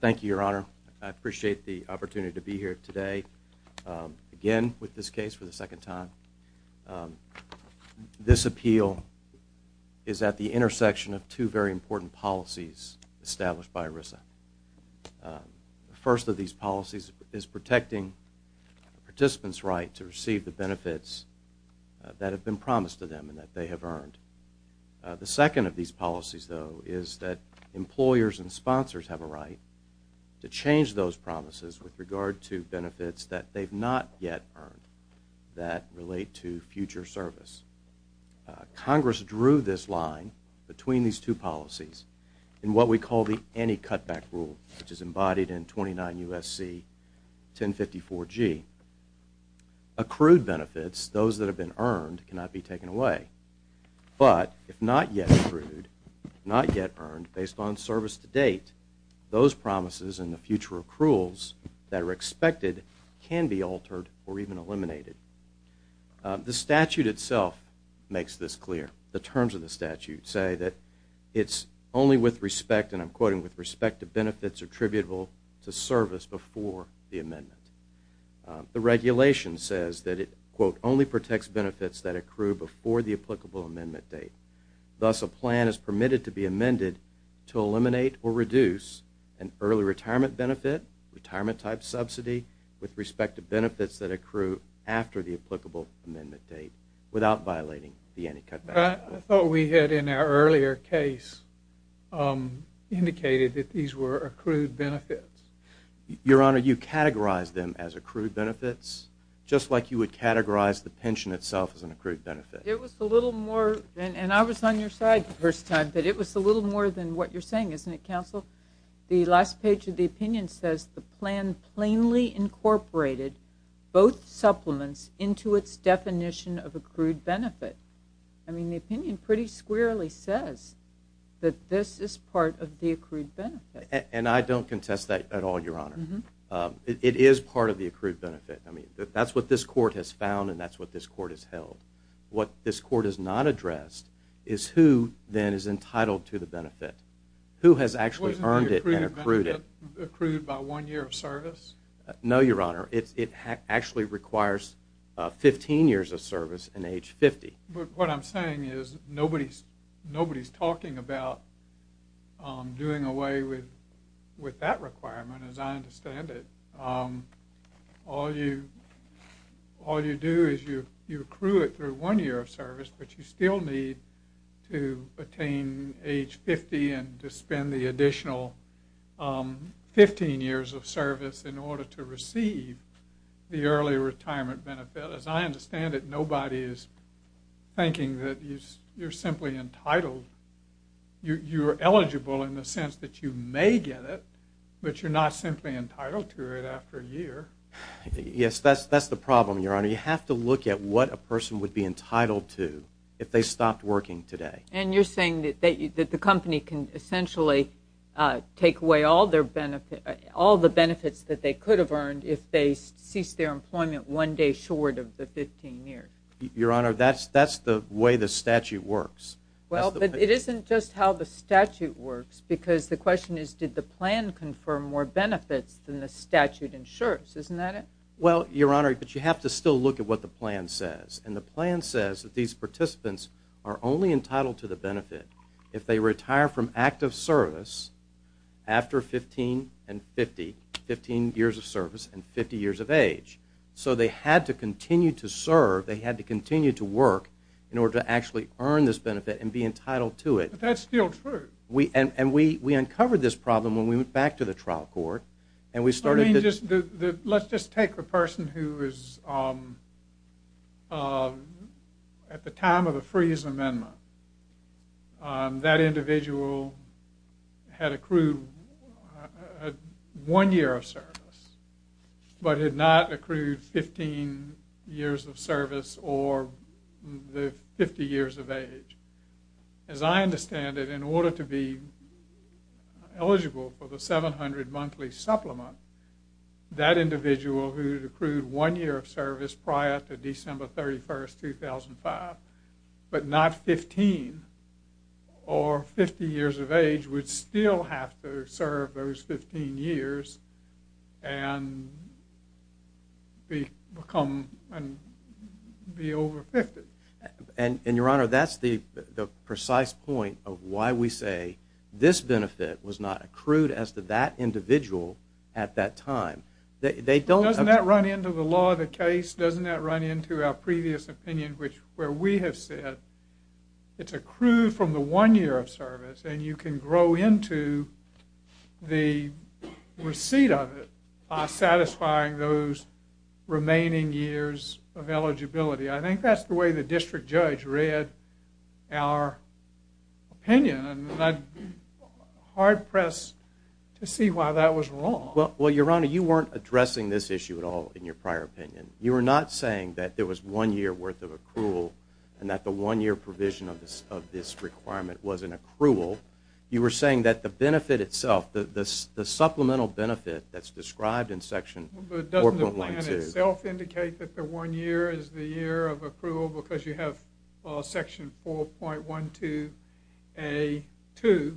Thank you, Your Honor. I appreciate the opportunity to be here today again with this case for the second time. This appeal is at the intersection of two very important policies established by ERISA. The first of these policies is protecting participants' right to receive the benefits that have been promised to them and that they have earned. The second of these policies, though, is that employers and sponsors have a right to change those promises with regard to benefits that they've not yet earned that relate to future service. Congress drew this line between these two policies in what we call the Any Cutback Rule, which is embodied in 29 U.S.C. 1054G. Accrued benefits, those that have been earned, cannot be taken away. But if not yet accrued, not yet earned, based on service to date, those promises and the future accruals that are expected can be altered or even eliminated. The statute itself makes this clear. The terms of the statute say that it's only with respect, and I'm quoting, with respect to benefits attributable to service before the amendment. The regulation says that it, quote, only protects benefits that accrue before the applicable amendment date. Thus, a plan is permitted to be amended to eliminate or reduce an early retirement benefit, retirement-type subsidy, with respect to benefits that accrue after the applicable amendment date, without violating the Any Cutback Rule. I thought we had in our earlier case indicated that these were accrued benefits. Your Honor, you categorized them as accrued benefits, just like you would categorize the pension itself as an accrued benefit. It was a little more, and I was on your side the first time, but it was a little more than what you're saying, isn't it, Counsel? The last page of the opinion says the plan plainly incorporated both supplements into its definition of accrued benefit. I mean, the opinion pretty squarely says that this is part of the accrued benefit. And I don't contest that at all, Your Honor. It is part of the accrued benefit. I mean, that's what this Court has found, and that's what this Court has held. What this Court has not addressed is who, then, is entitled to the benefit, who has actually earned it and accrued it. Wasn't the accrued benefit accrued by one year of service? No, Your Honor. It actually requires 15 years of service and age 50. But what I'm saying is nobody's talking about doing away with that requirement, as I understand it. All you do is you accrue it through one year of service, but you still need to attain age 50 and to spend the additional 15 years of service in order to receive the early retirement benefit. As I understand it, nobody is thinking that you're simply entitled. You're eligible in the sense that you may get it, but you're not simply entitled to it after a year. Yes, that's the problem, Your Honor. You have to look at what a person would be entitled to if they stopped working today. And you're saying that the company can essentially take away all the benefits that they could have earned if they ceased their employment one day short of the 15 years? Your Honor, that's the way the statute works. Well, but it isn't just how the statute works, because the question is did the plan confirm more benefits than the statute ensures. Isn't that it? Well, Your Honor, but you have to still look at what the plan says. And the plan says that these participants are only entitled to the benefit if they retire from active service after 15 years of service and 50 years of age. So they had to continue to serve. They had to continue to work in order to actually earn this benefit and be entitled to it. But that's still true. And we uncovered this problem when we went back to the trial court. Let's just take the person who is at the time of the freeze amendment. That individual had accrued one year of service but had not accrued 15 years of service or the 50 years of age. As I understand it, in order to be eligible for the 700 monthly supplement, that individual who had accrued one year of service prior to December 31, 2005 but not 15 or 50 years of age would still have to serve those 15 years and be over 50. And, Your Honor, that's the precise point of why we say this benefit was not accrued as to that individual at that time. Doesn't that run into the law of the case? Doesn't that run into our previous opinion where we have said it's accrued from the one year of service and you can grow into the receipt of it by satisfying those remaining years of eligibility? I think that's the way the district judge read our opinion and I'm hard-pressed to see why that was wrong. Well, Your Honor, you weren't addressing this issue at all in your prior opinion. You were not saying that there was one year worth of accrual and that the one year provision of this requirement was an accrual. You were saying that the benefit itself, the supplemental benefit that's described in Section 4.1.2 and itself indicate that the one year is the year of accrual because you have Section 4.1.2A.2.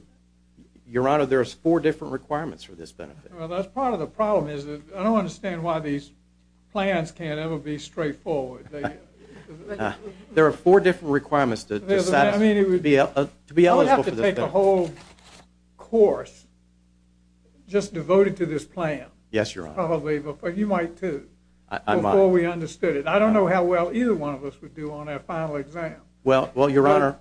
Your Honor, there are four different requirements for this benefit. Well, that's part of the problem is that I don't understand why these plans can't ever be straightforward. There are four different requirements to be eligible for this benefit. You would have to take a whole course just devoted to this plan. Yes, Your Honor. You might, too, before we understood it. I don't know how well either one of us would do on our final exam. Well, Your Honor,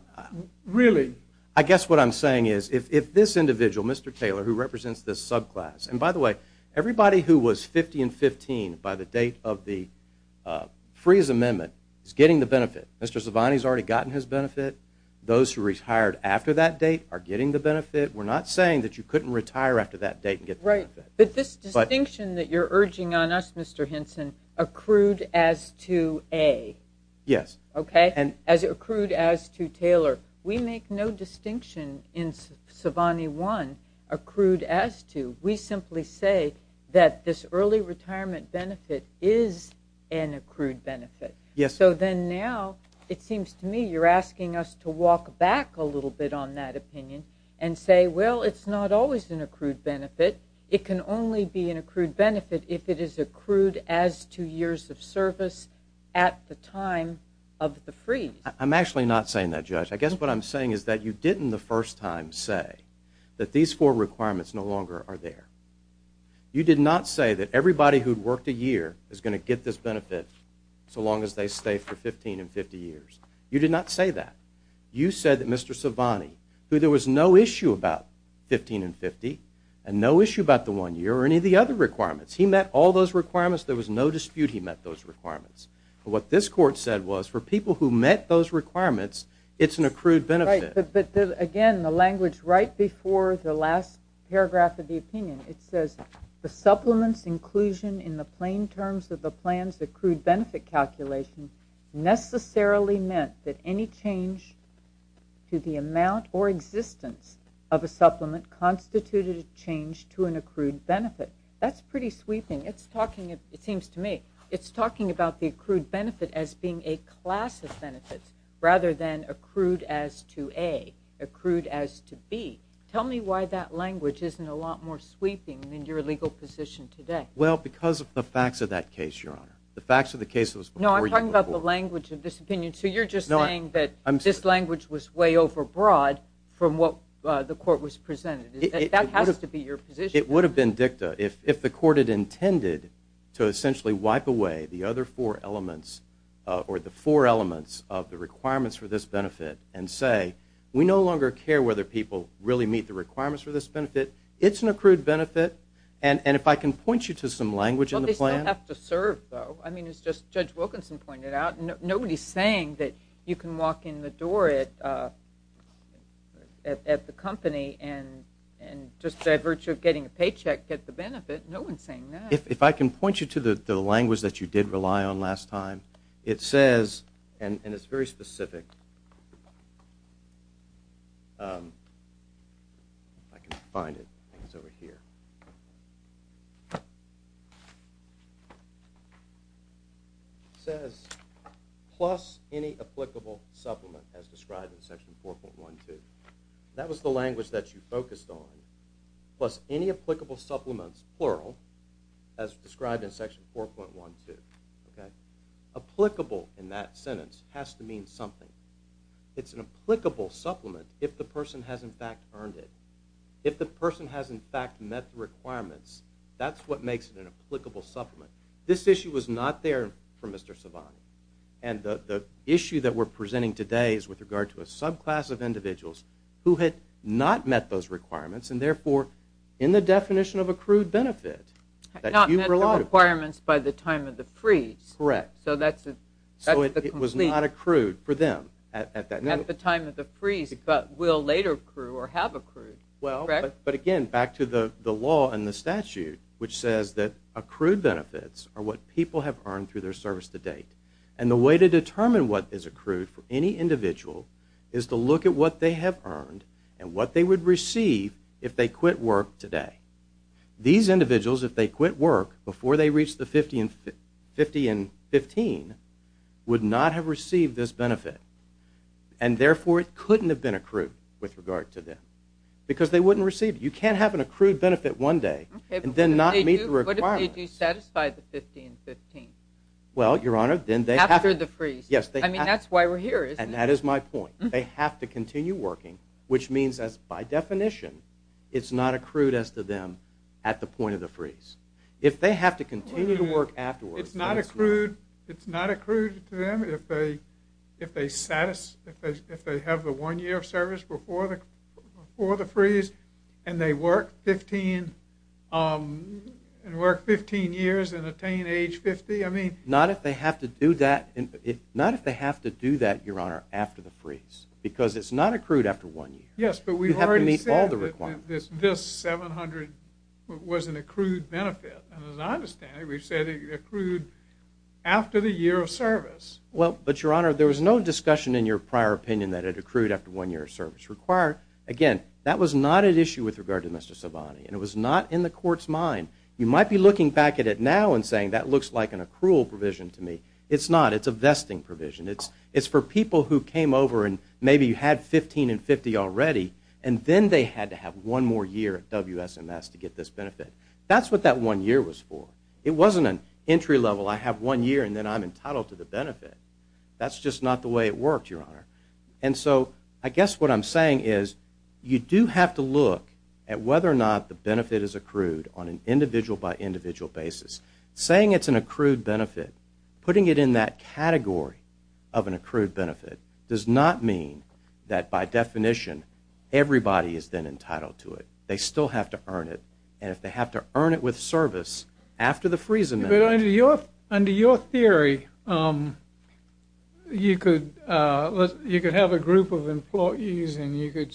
I guess what I'm saying is if this individual, Mr. Taylor, who represents this subclass, and by the way, everybody who was 50 and 15 by the date of the freeze amendment is getting the benefit. Mr. Zivani has already gotten his benefit. Those who retired after that date are getting the benefit. We're not saying that you couldn't retire after that date and get the benefit. But this distinction that you're urging on us, Mr. Hinson, accrued as to A. Yes. As accrued as to Taylor. We make no distinction in Zivani 1 accrued as to. We simply say that this early retirement benefit is an accrued benefit. Yes. So then now it seems to me you're asking us to walk back a little bit on that opinion and say, well, it's not always an accrued benefit. It can only be an accrued benefit if it is accrued as to years of service at the time of the freeze. I'm actually not saying that, Judge. I guess what I'm saying is that you didn't the first time say that these four requirements no longer are there. You did not say that everybody who worked a year is going to get this benefit so long as they stay for 15 and 50 years. You did not say that. You said that Mr. Zivani, who there was no issue about 15 and 50 and no issue about the one year or any of the other requirements. He met all those requirements. There was no dispute he met those requirements. But what this court said was for people who met those requirements, it's an accrued benefit. But again, the language right before the last paragraph of the opinion, it says the supplement's inclusion in the plain terms of the plan's accrued benefit calculation necessarily meant that any change to the amount or existence of a supplement constituted a change to an accrued benefit. That's pretty sweeping. It seems to me it's talking about the accrued benefit as being a class of benefits rather than accrued as to A, accrued as to B. Tell me why that language isn't a lot more sweeping than your legal position today. Well, because of the facts of that case, Your Honor. No, I'm talking about the language of this opinion. So you're just saying that this language was way over broad from what the court was presenting. That has to be your position. It would have been dicta if the court had intended to essentially wipe away the other four elements or the four elements of the requirements for this benefit and say, we no longer care whether people really meet the requirements for this benefit. It's an accrued benefit. And if I can point you to some language in the plan. You don't have to serve, though. I mean, it's just Judge Wilkinson pointed out. Nobody's saying that you can walk in the door at the company and just by virtue of getting a paycheck get the benefit. No one's saying that. If I can point you to the language that you did rely on last time. It says, and it's very specific. I can find it. I think it's over here. It says, plus any applicable supplement as described in section 4.12. That was the language that you focused on. Plus any applicable supplements, plural, as described in section 4.12. Applicable in that sentence has to mean something. It's an applicable supplement if the person has, in fact, earned it. If the person has, in fact, met the requirements, that's what makes it an applicable supplement. This issue was not there for Mr. Savani. And the issue that we're presenting today is with regard to a subclass of individuals who had not met those requirements and, therefore, in the definition of accrued benefit. Not met the requirements by the time of the freeze. Correct. So that's the complete. So it was not accrued for them at that time. At the time of the freeze, but will later accrue or have accrued. Well, but again, back to the law and the statute, which says that accrued benefits are what people have earned through their service to date. And the way to determine what is accrued for any individual is to look at what they have earned and what they would receive if they quit work today. These individuals, if they quit work before they reach the 50 and 15, would not have received this benefit. And, therefore, it couldn't have been accrued with regard to them because they wouldn't receive it. You can't have an accrued benefit one day and then not meet the requirements. Okay, but what if they do satisfy the 50 and 15? Well, Your Honor, then they have to. After the freeze. Yes, they have to. I mean, that's why we're here, isn't it? And that is my point. They have to continue working, which means that, by definition, it's not accrued as to them at the point of the freeze. If they have to continue to work afterwards. It's not accrued to them if they have the one year of service before the freeze and work 15 years and attain age 50? Not if they have to do that, Your Honor, after the freeze. Because it's not accrued after one year. Yes, but we've already said that this 700 was an accrued benefit. And, as I understand it, we've said it accrued after the year of service. Well, but, Your Honor, there was no discussion in your prior opinion that it accrued after one year of service. Again, that was not at issue with regard to Mr. Sovani, and it was not in the Court's mind. You might be looking back at it now and saying, that looks like an accrual provision to me. It's not. It's a vesting provision. It's for people who came over and maybe had 15 and 50 already, and then they had to have one more year at WSMS to get this benefit. That's what that one year was for. It wasn't an entry level, I have one year and then I'm entitled to the benefit. That's just not the way it worked, Your Honor. And so I guess what I'm saying is you do have to look at whether or not the benefit is accrued on an individual-by-individual basis. Saying it's an accrued benefit, putting it in that category of an accrued benefit, does not mean that, by definition, everybody is then entitled to it. They still have to earn it, and if they have to earn it with service after the freeze amendment. Under your theory, you could have a group of employees and you could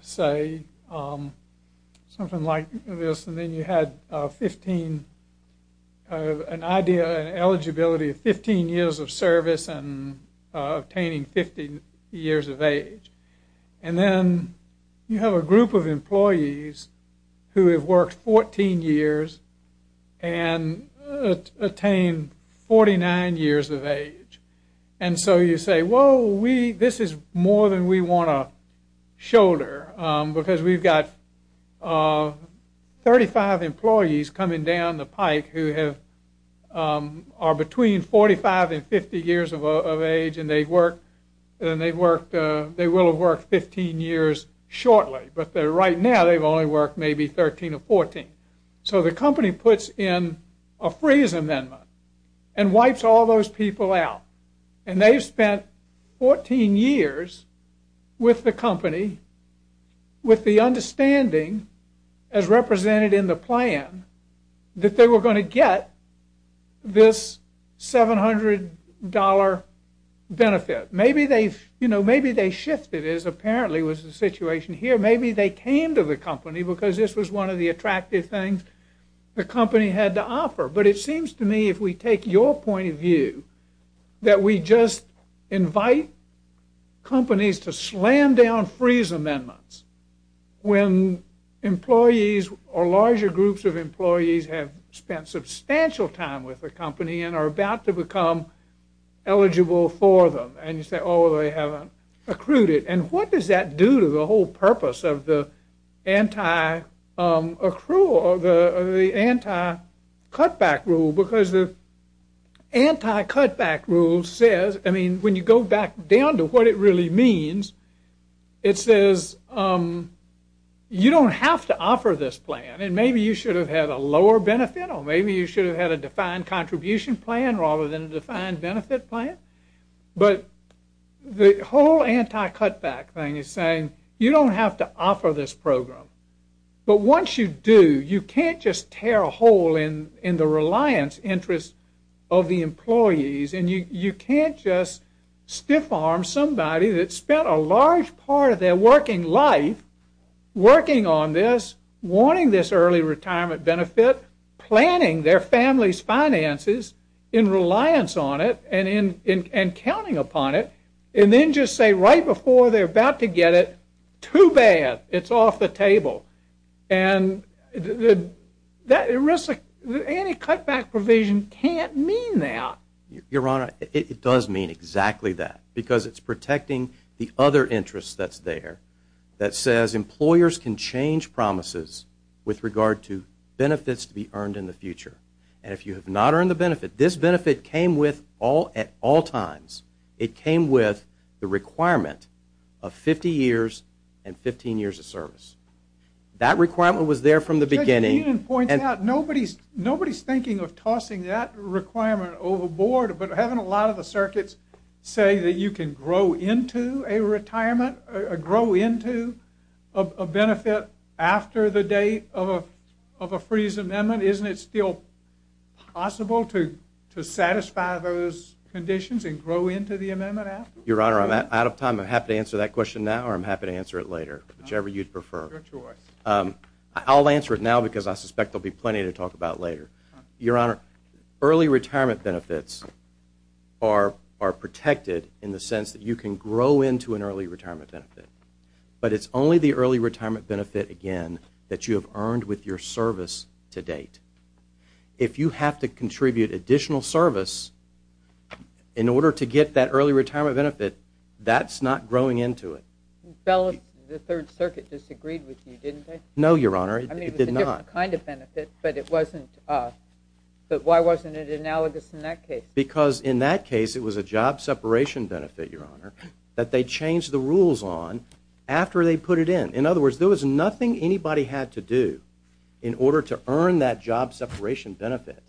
say something like this, and then you had an idea and eligibility of 15 years of service and obtaining 50 years of age. And then you have a group of employees who have worked 14 years and attained 49 years of age. And so you say, well, this is more than we want to shoulder, because we've got 35 employees coming down the pike who are between 45 and 50 years of age and they will have worked 15 years shortly, but right now they've only worked maybe 13 or 14. So the company puts in a freeze amendment and wipes all those people out. And they've spent 14 years with the company, with the understanding, as represented in the plan, that they were going to get this $700 benefit. Maybe they shifted, as apparently was the situation here. Maybe they came to the company because this was one of the attractive things the company had to offer. But it seems to me, if we take your point of view, that we just invite companies to slam down freeze amendments when employees or larger groups of employees have spent substantial time with the company and are about to become eligible for them. And you say, oh, they haven't accrued it. And what does that do to the whole purpose of the anti-accrual or the anti-cutback rule? Because the anti-cutback rule says, I mean, when you go back down to what it really means, it says you don't have to offer this plan. And maybe you should have had a lower benefit or maybe you should have had a defined contribution plan rather than a defined benefit plan. But the whole anti-cutback thing is saying you don't have to offer this program. But once you do, you can't just tear a hole in the reliance interest of the employees. And you can't just stiff-arm somebody that spent a large part of their working life working on this, wanting this early retirement benefit, planning their family's finances in reliance on it and counting upon it, and then just say right before they're about to get it, too bad, it's off the table. And the anti-cutback provision can't mean that. Your Honor, it does mean exactly that because it's protecting the other interest that's there that says employers can change promises with regard to benefits to be earned in the future. And if you have not earned the benefit, this benefit came with at all times, it came with the requirement of 50 years and 15 years of service. That requirement was there from the beginning. Judge Keenan points out nobody's thinking of tossing that requirement overboard, but haven't a lot of the circuits say that you can grow into a retirement, grow into a benefit after the date of a freeze amendment? Isn't it still possible to satisfy those conditions and grow into the amendment after? Your Honor, I'm out of time. I'm happy to answer that question now or I'm happy to answer it later, whichever you'd prefer. Your choice. I'll answer it now because I suspect there'll be plenty to talk about later. Your Honor, early retirement benefits are protected in the sense that you can grow into an early retirement benefit, but it's only the early retirement benefit, again, that you have earned with your service to date. If you have to contribute additional service in order to get that early retirement benefit, that's not growing into it. The Third Circuit disagreed with you, didn't they? No, Your Honor, it did not. I mean, it was a different kind of benefit, but why wasn't it analogous in that case? Because in that case it was a job separation benefit, Your Honor, that they changed the rules on after they put it in. In other words, there was nothing anybody had to do in order to earn that job separation benefit.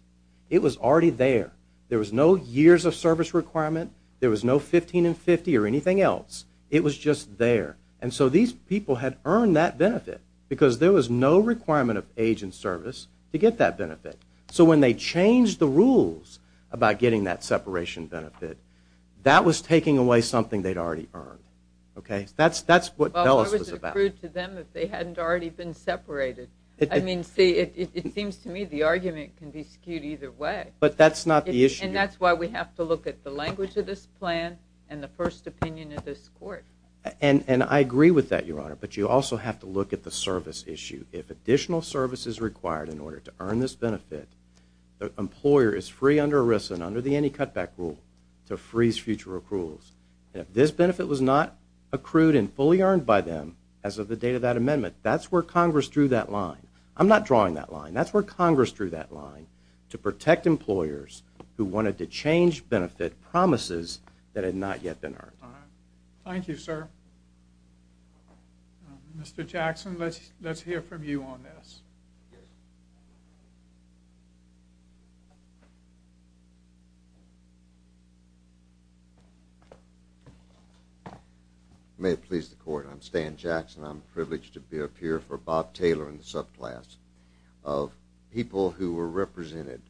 It was already there. There was no years of service requirement. There was no 15 and 50 or anything else. It was just there. And so these people had earned that benefit because there was no requirement of age and service to get that benefit. So when they changed the rules about getting that separation benefit, that was taking away something they'd already earned. That's what DELIS was about. Well, why was it accrued to them if they hadn't already been separated? I mean, see, it seems to me the argument can be skewed either way. But that's not the issue. And that's why we have to look at the language of this plan and the first opinion of this court. And I agree with that, Your Honor, but you also have to look at the service issue. If additional service is required in order to earn this benefit, the employer is free under ERISA and under the Any Cutback Rule to freeze future accruals. And if this benefit was not accrued and fully earned by them as of the date of that amendment, that's where Congress drew that line. I'm not drawing that line. That's where Congress drew that line, to protect employers who wanted to change benefit promises that had not yet been earned. Thank you, sir. Mr. Jackson, let's hear from you on this. May it please the Court, I'm Stan Jackson. I'm privileged to appear for Bob Taylor in the subclass of people who were represented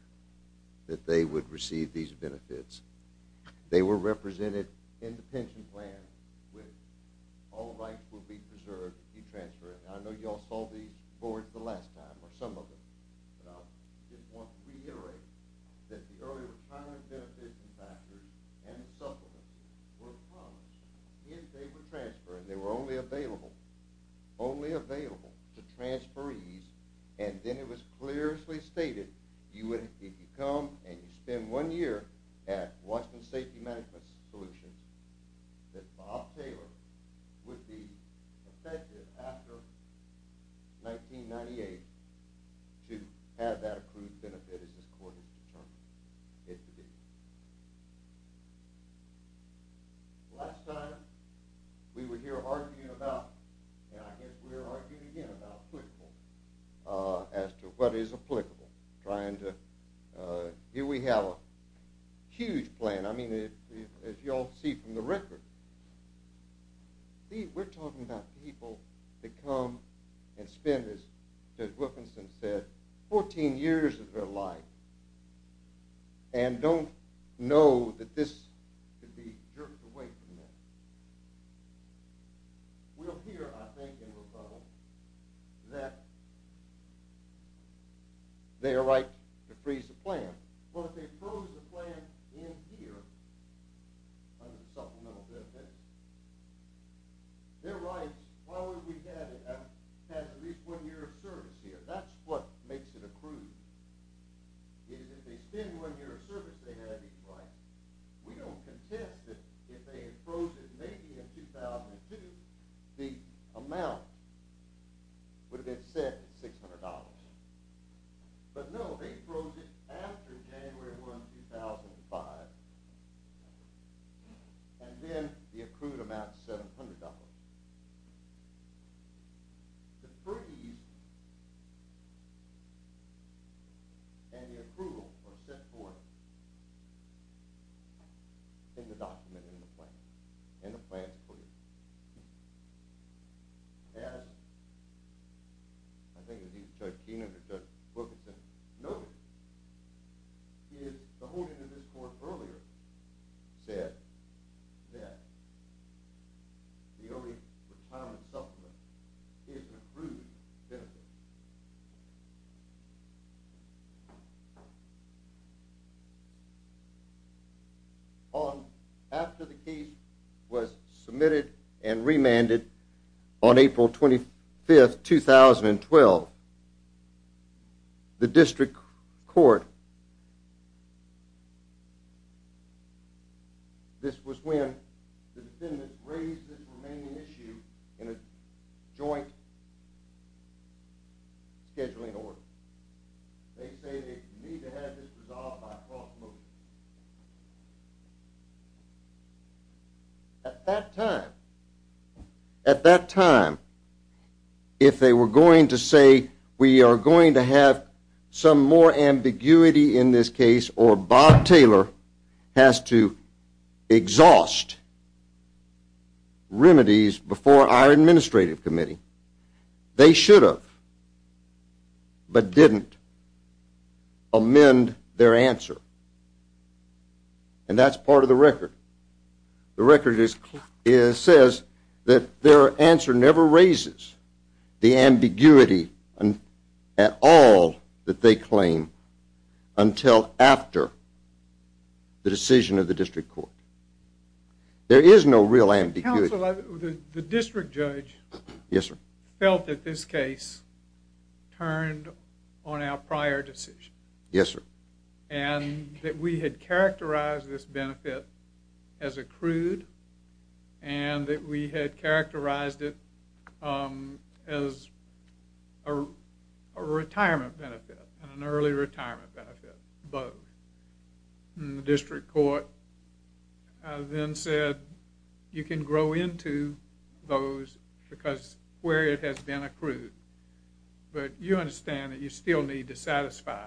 that they would receive these benefits. They were represented in the pension plan with all rights will be preserved to be transferred. And I know you all saw these boards the last time, or some of them. But I just want to reiterate that the earlier retirement benefit factors and supplements were promised. If they were transferred and they were only available, only available to transferees, and then it was clearly stated if you come and you spend one year at Washington Safety Management Solutions that Bob Taylor would be effective after 1998 to have that accrued benefit as this Court has determined it to be. Last time we were here arguing about, and I guess we were arguing again about applicable, as to what is applicable. Here we have a huge plan. I mean, as you all see from the record, we're talking about people that come and spend, as Wilkinson said, 14 years of their life and don't know that this could be jerked away from them. We'll hear, I think, in rebuttal, that they are right to freeze the plan. But if they froze the plan in here, under the supplemental benefit, their rights, while we've had at least one year of service here, that's what makes it accrued, is if they spend one year of service, they have these rights. We don't contest that if they froze it maybe in 2002, the amount would have been set at $600. But no, they froze it after January 1, 2005, and then the accrued amount is $700. The freeze and the accrual are set forth in the document, in the plan, in the plan's footage. As, I think, as Dean understood, Wilkinson noted, is the holding of this court earlier said that the only retirement supplement is an accrued benefit. After the case was submitted and remanded on April 25, 2012, the district court, this was when the defendants raised this remaining issue in a joint scheduling order. They say they need to have this resolved by cross-moving. At that time, at that time, if they were going to say we are going to have some more ambiguity in this case or Bob Taylor has to exhaust remedies before our administrative committee, they should have, but didn't amend their answer. And that's part of the record. The record says that their answer never raises the ambiguity at all that they claim until after the decision of the district court. There is no real ambiguity. Counsel, the district judge felt that this case turned on our prior decision. Yes, sir. And that we had characterized this benefit as accrued and that we had characterized it as a retirement benefit, an early retirement benefit, both. And the district court then said you can grow into those because where it has been accrued, but you understand that you still need to satisfy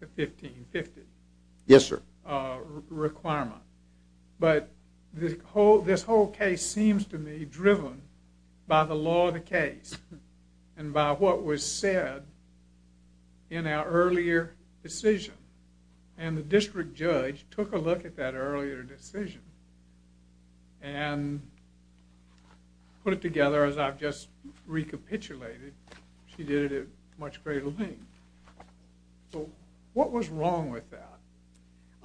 the 1550 requirement. Yes, sir. But this whole case seems to me driven by the law of the case and by what was said in our earlier decision. And the district judge took a look at that earlier decision and put it together as I've just recapitulated. She did it at much greater length. So what was wrong with that?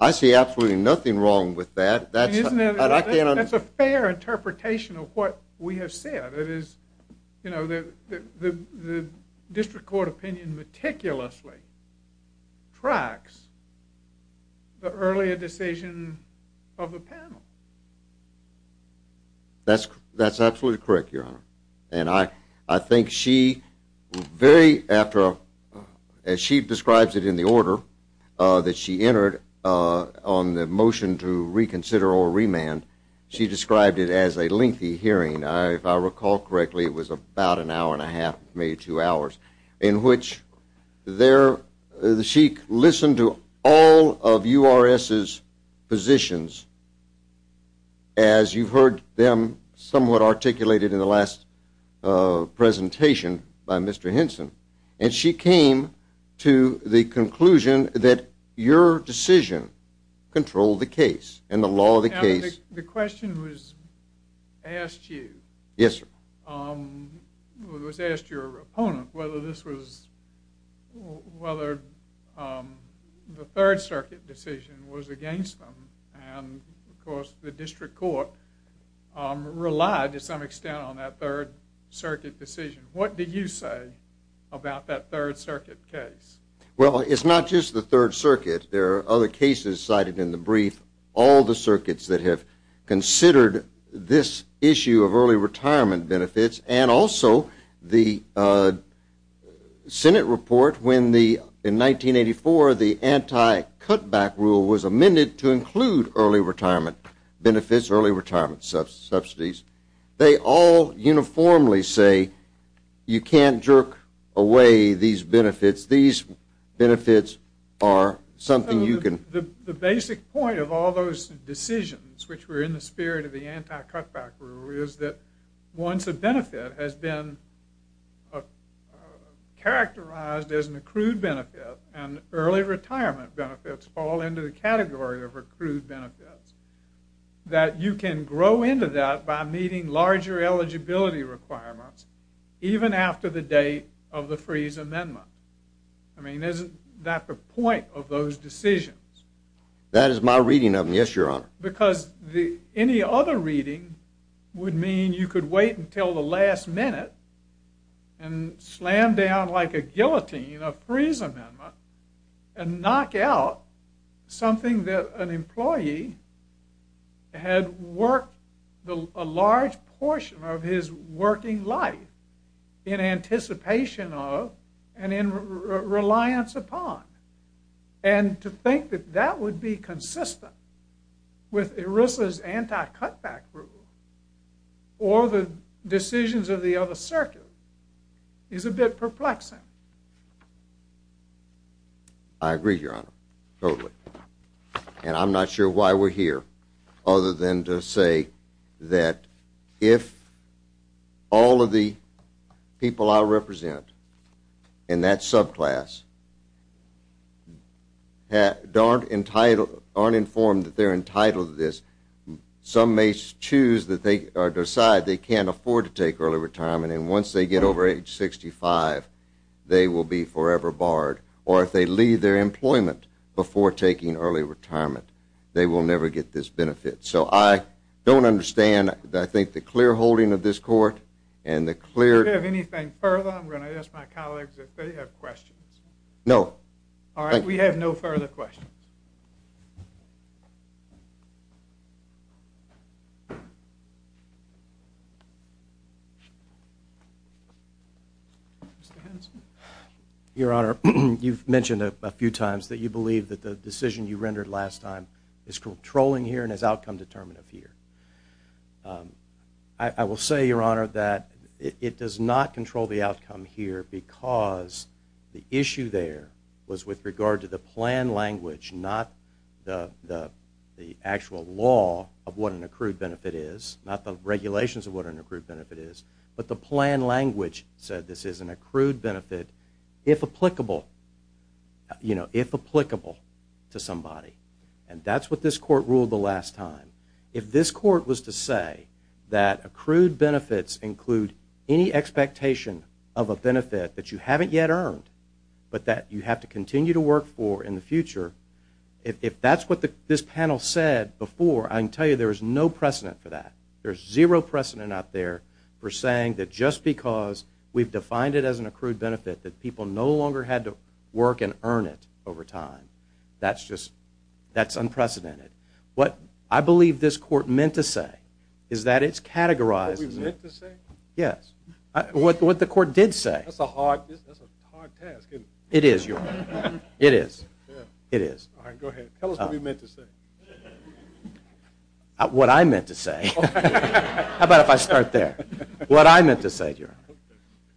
I see absolutely nothing wrong with that. That's a fair interpretation of what we have said. You know, the district court opinion meticulously tracks the earlier decision of the panel. That's absolutely correct, Your Honor. And I think she very after, as she describes it in the order that she entered on the motion to reconsider or remand, she described it as a lengthy hearing. If I recall correctly, it was about an hour and a half, maybe two hours, in which she listened to all of URS's positions as you heard them somewhat articulated in the last presentation by Mr. Henson. And she came to the conclusion that your decision controlled the case and the law of the case. The question was asked you. Yes, sir. It was asked your opponent whether the Third Circuit decision was against them. And, of course, the district court relied to some extent on that Third Circuit decision. What did you say about that Third Circuit case? Well, it's not just the Third Circuit. There are other cases cited in the brief. All the circuits that have considered this issue of early retirement benefits and also the Senate report when, in 1984, the anti-cutback rule was amended to include early retirement benefits, early retirement subsidies. They all uniformly say you can't jerk away these benefits. These benefits are something you can... The basic point of all those decisions, which were in the spirit of the anti-cutback rule, is that once a benefit has been characterized as an accrued benefit and early retirement benefits fall into the category of accrued benefits, that you can grow into that by meeting larger eligibility requirements even after the date of the freeze amendment. I mean, isn't that the point of those decisions? That is my reading of them, yes, your honor. Because any other reading would mean you could wait until the last minute and slam down like a guillotine a freeze amendment and knock out something that an employee had worked a large portion of his working life in anticipation of and in reliance upon. And to think that that would be consistent with ERISA's anti-cutback rule or the decisions of the other circuit is a bit perplexing. I agree, your honor, totally. And I'm not sure why we're here other than to say that if all of the people I represent in that subclass aren't informed that they're entitled to this, some may decide they can't afford to take early retirement and once they get over age 65 they will be forever barred. Or if they leave their employment before taking early retirement, they will never get this benefit. So I don't understand, I think, the clear holding of this court and the clear... Do you have anything further? I'm going to ask my colleagues if they have questions. No. All right, we have no further questions. Mr. Hanson? Your honor, you've mentioned a few times that you believe that the decision you rendered last time is controlling here and is outcome determinative here. I will say, your honor, that it does not control the outcome here because the issue there was with regard to the plan language, not the actual law of what an accrued benefit is, not the regulations of what an accrued benefit is, but the plan language said this is an accrued benefit, if applicable to somebody. And that's what this court ruled the last time. If this court was to say that accrued benefits include any expectation of a benefit that you haven't yet earned, but that you have to continue to work for in the future, if that's what this panel said before, I can tell you there is no precedent for that. There's zero precedent out there for saying that just because we've defined it as an accrued benefit that people no longer had to work and earn it over time. That's just unprecedented. What I believe this court meant to say is that it's categorized... What we meant to say? Yes. What the court did say. That's a hard task, isn't it? It is, Your Honor. It is. It is. All right, go ahead. Tell us what you meant to say. What I meant to say. How about if I start there? What I meant to say, Your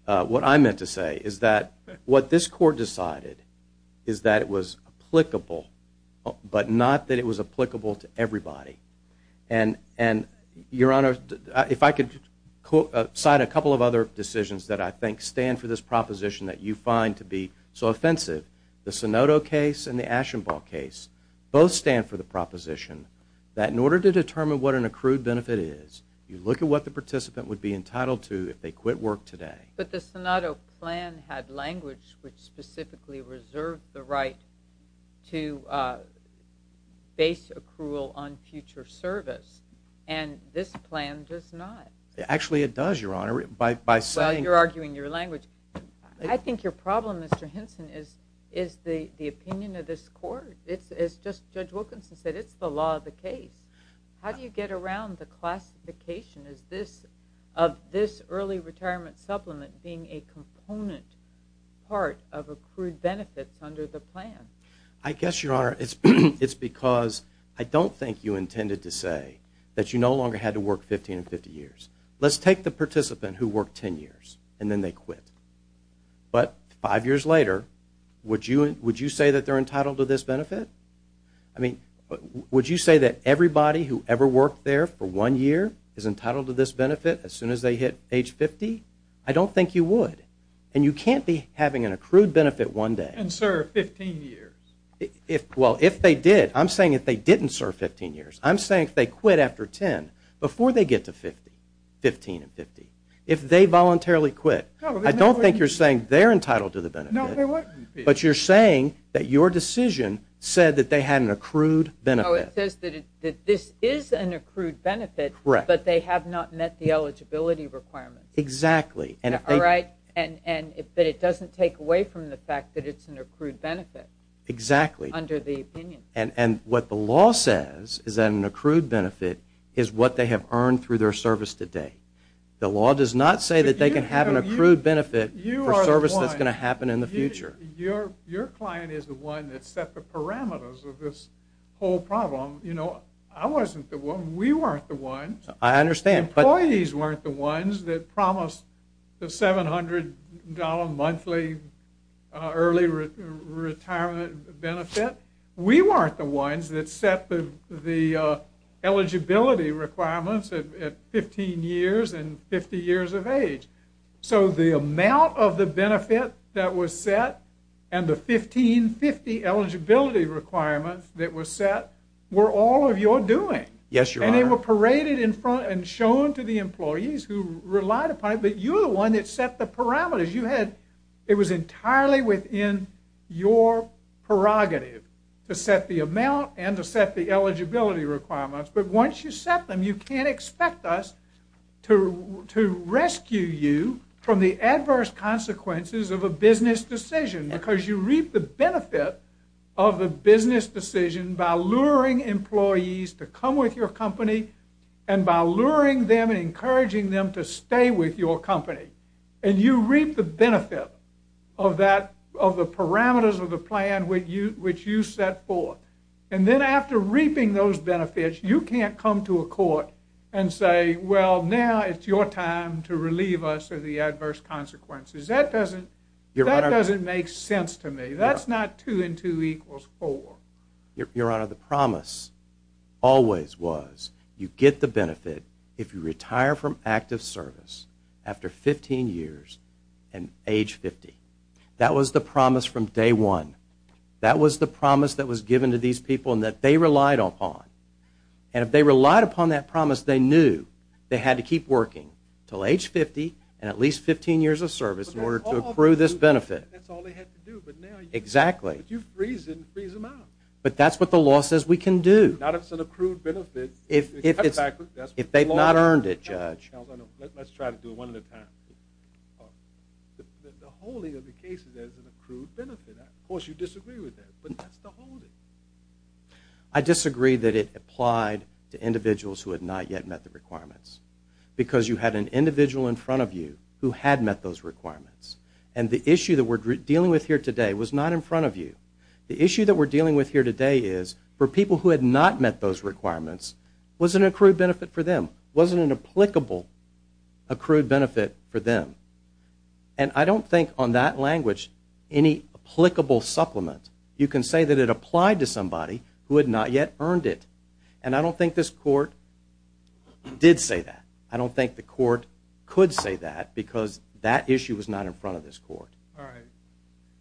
Honor, what I meant to say is that what this court decided is that it was applicable, but not that it was applicable to everybody. And, Your Honor, if I could cite a couple of other decisions that I think stand for this proposition that you find to be so offensive, the Sinodo case and the Ashenbaugh case both stand for the proposition that in order to determine what an accrued benefit is, you look at what the participant would be entitled to if they quit work today. But the Sinodo plan had language which specifically reserved the right to base accrual on future service, and this plan does not. Actually, it does, Your Honor. Well, you're arguing your language. I think your problem, Mr. Henson, is the opinion of this court. As Judge Wilkinson said, it's the law of the case. How do you get around the classification of this early retirement supplement being a component part of accrued benefits under the plan? I guess, Your Honor, it's because I don't think you intended to say that you no longer had to work 15 to 50 years. Let's take the participant who worked 10 years, and then they quit. But five years later, would you say that they're entitled to this benefit? I mean, would you say that everybody who ever worked there for one year is entitled to this benefit as soon as they hit age 50? I don't think you would, and you can't be having an accrued benefit one day. And serve 15 years. Well, if they did, I'm saying if they didn't serve 15 years. I'm saying if they quit after 10, before they get to 15 and 50, if they voluntarily quit, I don't think you're saying they're entitled to the benefit. No, they weren't. But you're saying that your decision said that they had an accrued benefit. No, it says that this is an accrued benefit, but they have not met the eligibility requirements. Exactly. All right? And that it doesn't take away from the fact that it's an accrued benefit. Exactly. Under the opinion. And what the law says is that an accrued benefit is what they have earned through their service to date. The law does not say that they can have an accrued benefit for service that's going to happen in the future. Your client is the one that set the parameters of this whole problem. You know, I wasn't the one. We weren't the ones. I understand. Employees weren't the ones that promised the $700 monthly early retirement benefit. We weren't the ones that set the eligibility requirements at 15 years and 50 years of age. So the amount of the benefit that was set and the 15-50 eligibility requirements that were set were all of your doing. Yes, Your Honor. And they were paraded in front and shown to the employees who relied upon it. But you're the one that set the parameters. It was entirely within your prerogative to set the amount and to set the eligibility requirements. But once you set them, you can't expect us to rescue you from the adverse consequences of a business decision because you reap the benefit of the business decision by luring employees to come with your company and by luring them and encouraging them to stay with your company. And you reap the benefit of the parameters of the plan which you set forth. And then after reaping those benefits, you can't come to a court and say, well, now it's your time to relieve us of the adverse consequences. That doesn't make sense to me. That's not two and two equals four. if you retire from active service after 15 years and age 50. That was the promise from day one. That was the promise that was given to these people and that they relied upon. And if they relied upon that promise, they knew they had to keep working until age 50 and at least 15 years of service in order to accrue this benefit. That's all they had to do. Exactly. If you freeze them, freeze them out. But that's what the law says we can do. Not if it's an accrued benefit. If they've not earned it, Judge. Let's try to do it one at a time. The holding of the cases as an accrued benefit, of course you disagree with that, but that's the holding. I disagree that it applied to individuals who had not yet met the requirements because you had an individual in front of you who had met those requirements. And the issue that we're dealing with here today was not in front of you. The issue that we're dealing with here today is for people who had not met those requirements was an accrued benefit for them, wasn't an applicable accrued benefit for them. And I don't think on that language any applicable supplement. You can say that it applied to somebody who had not yet earned it. And I don't think this court did say that. I don't think the court could say that because that issue was not in front of this court.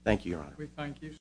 Thank you, Your Honor. We thank you, sir.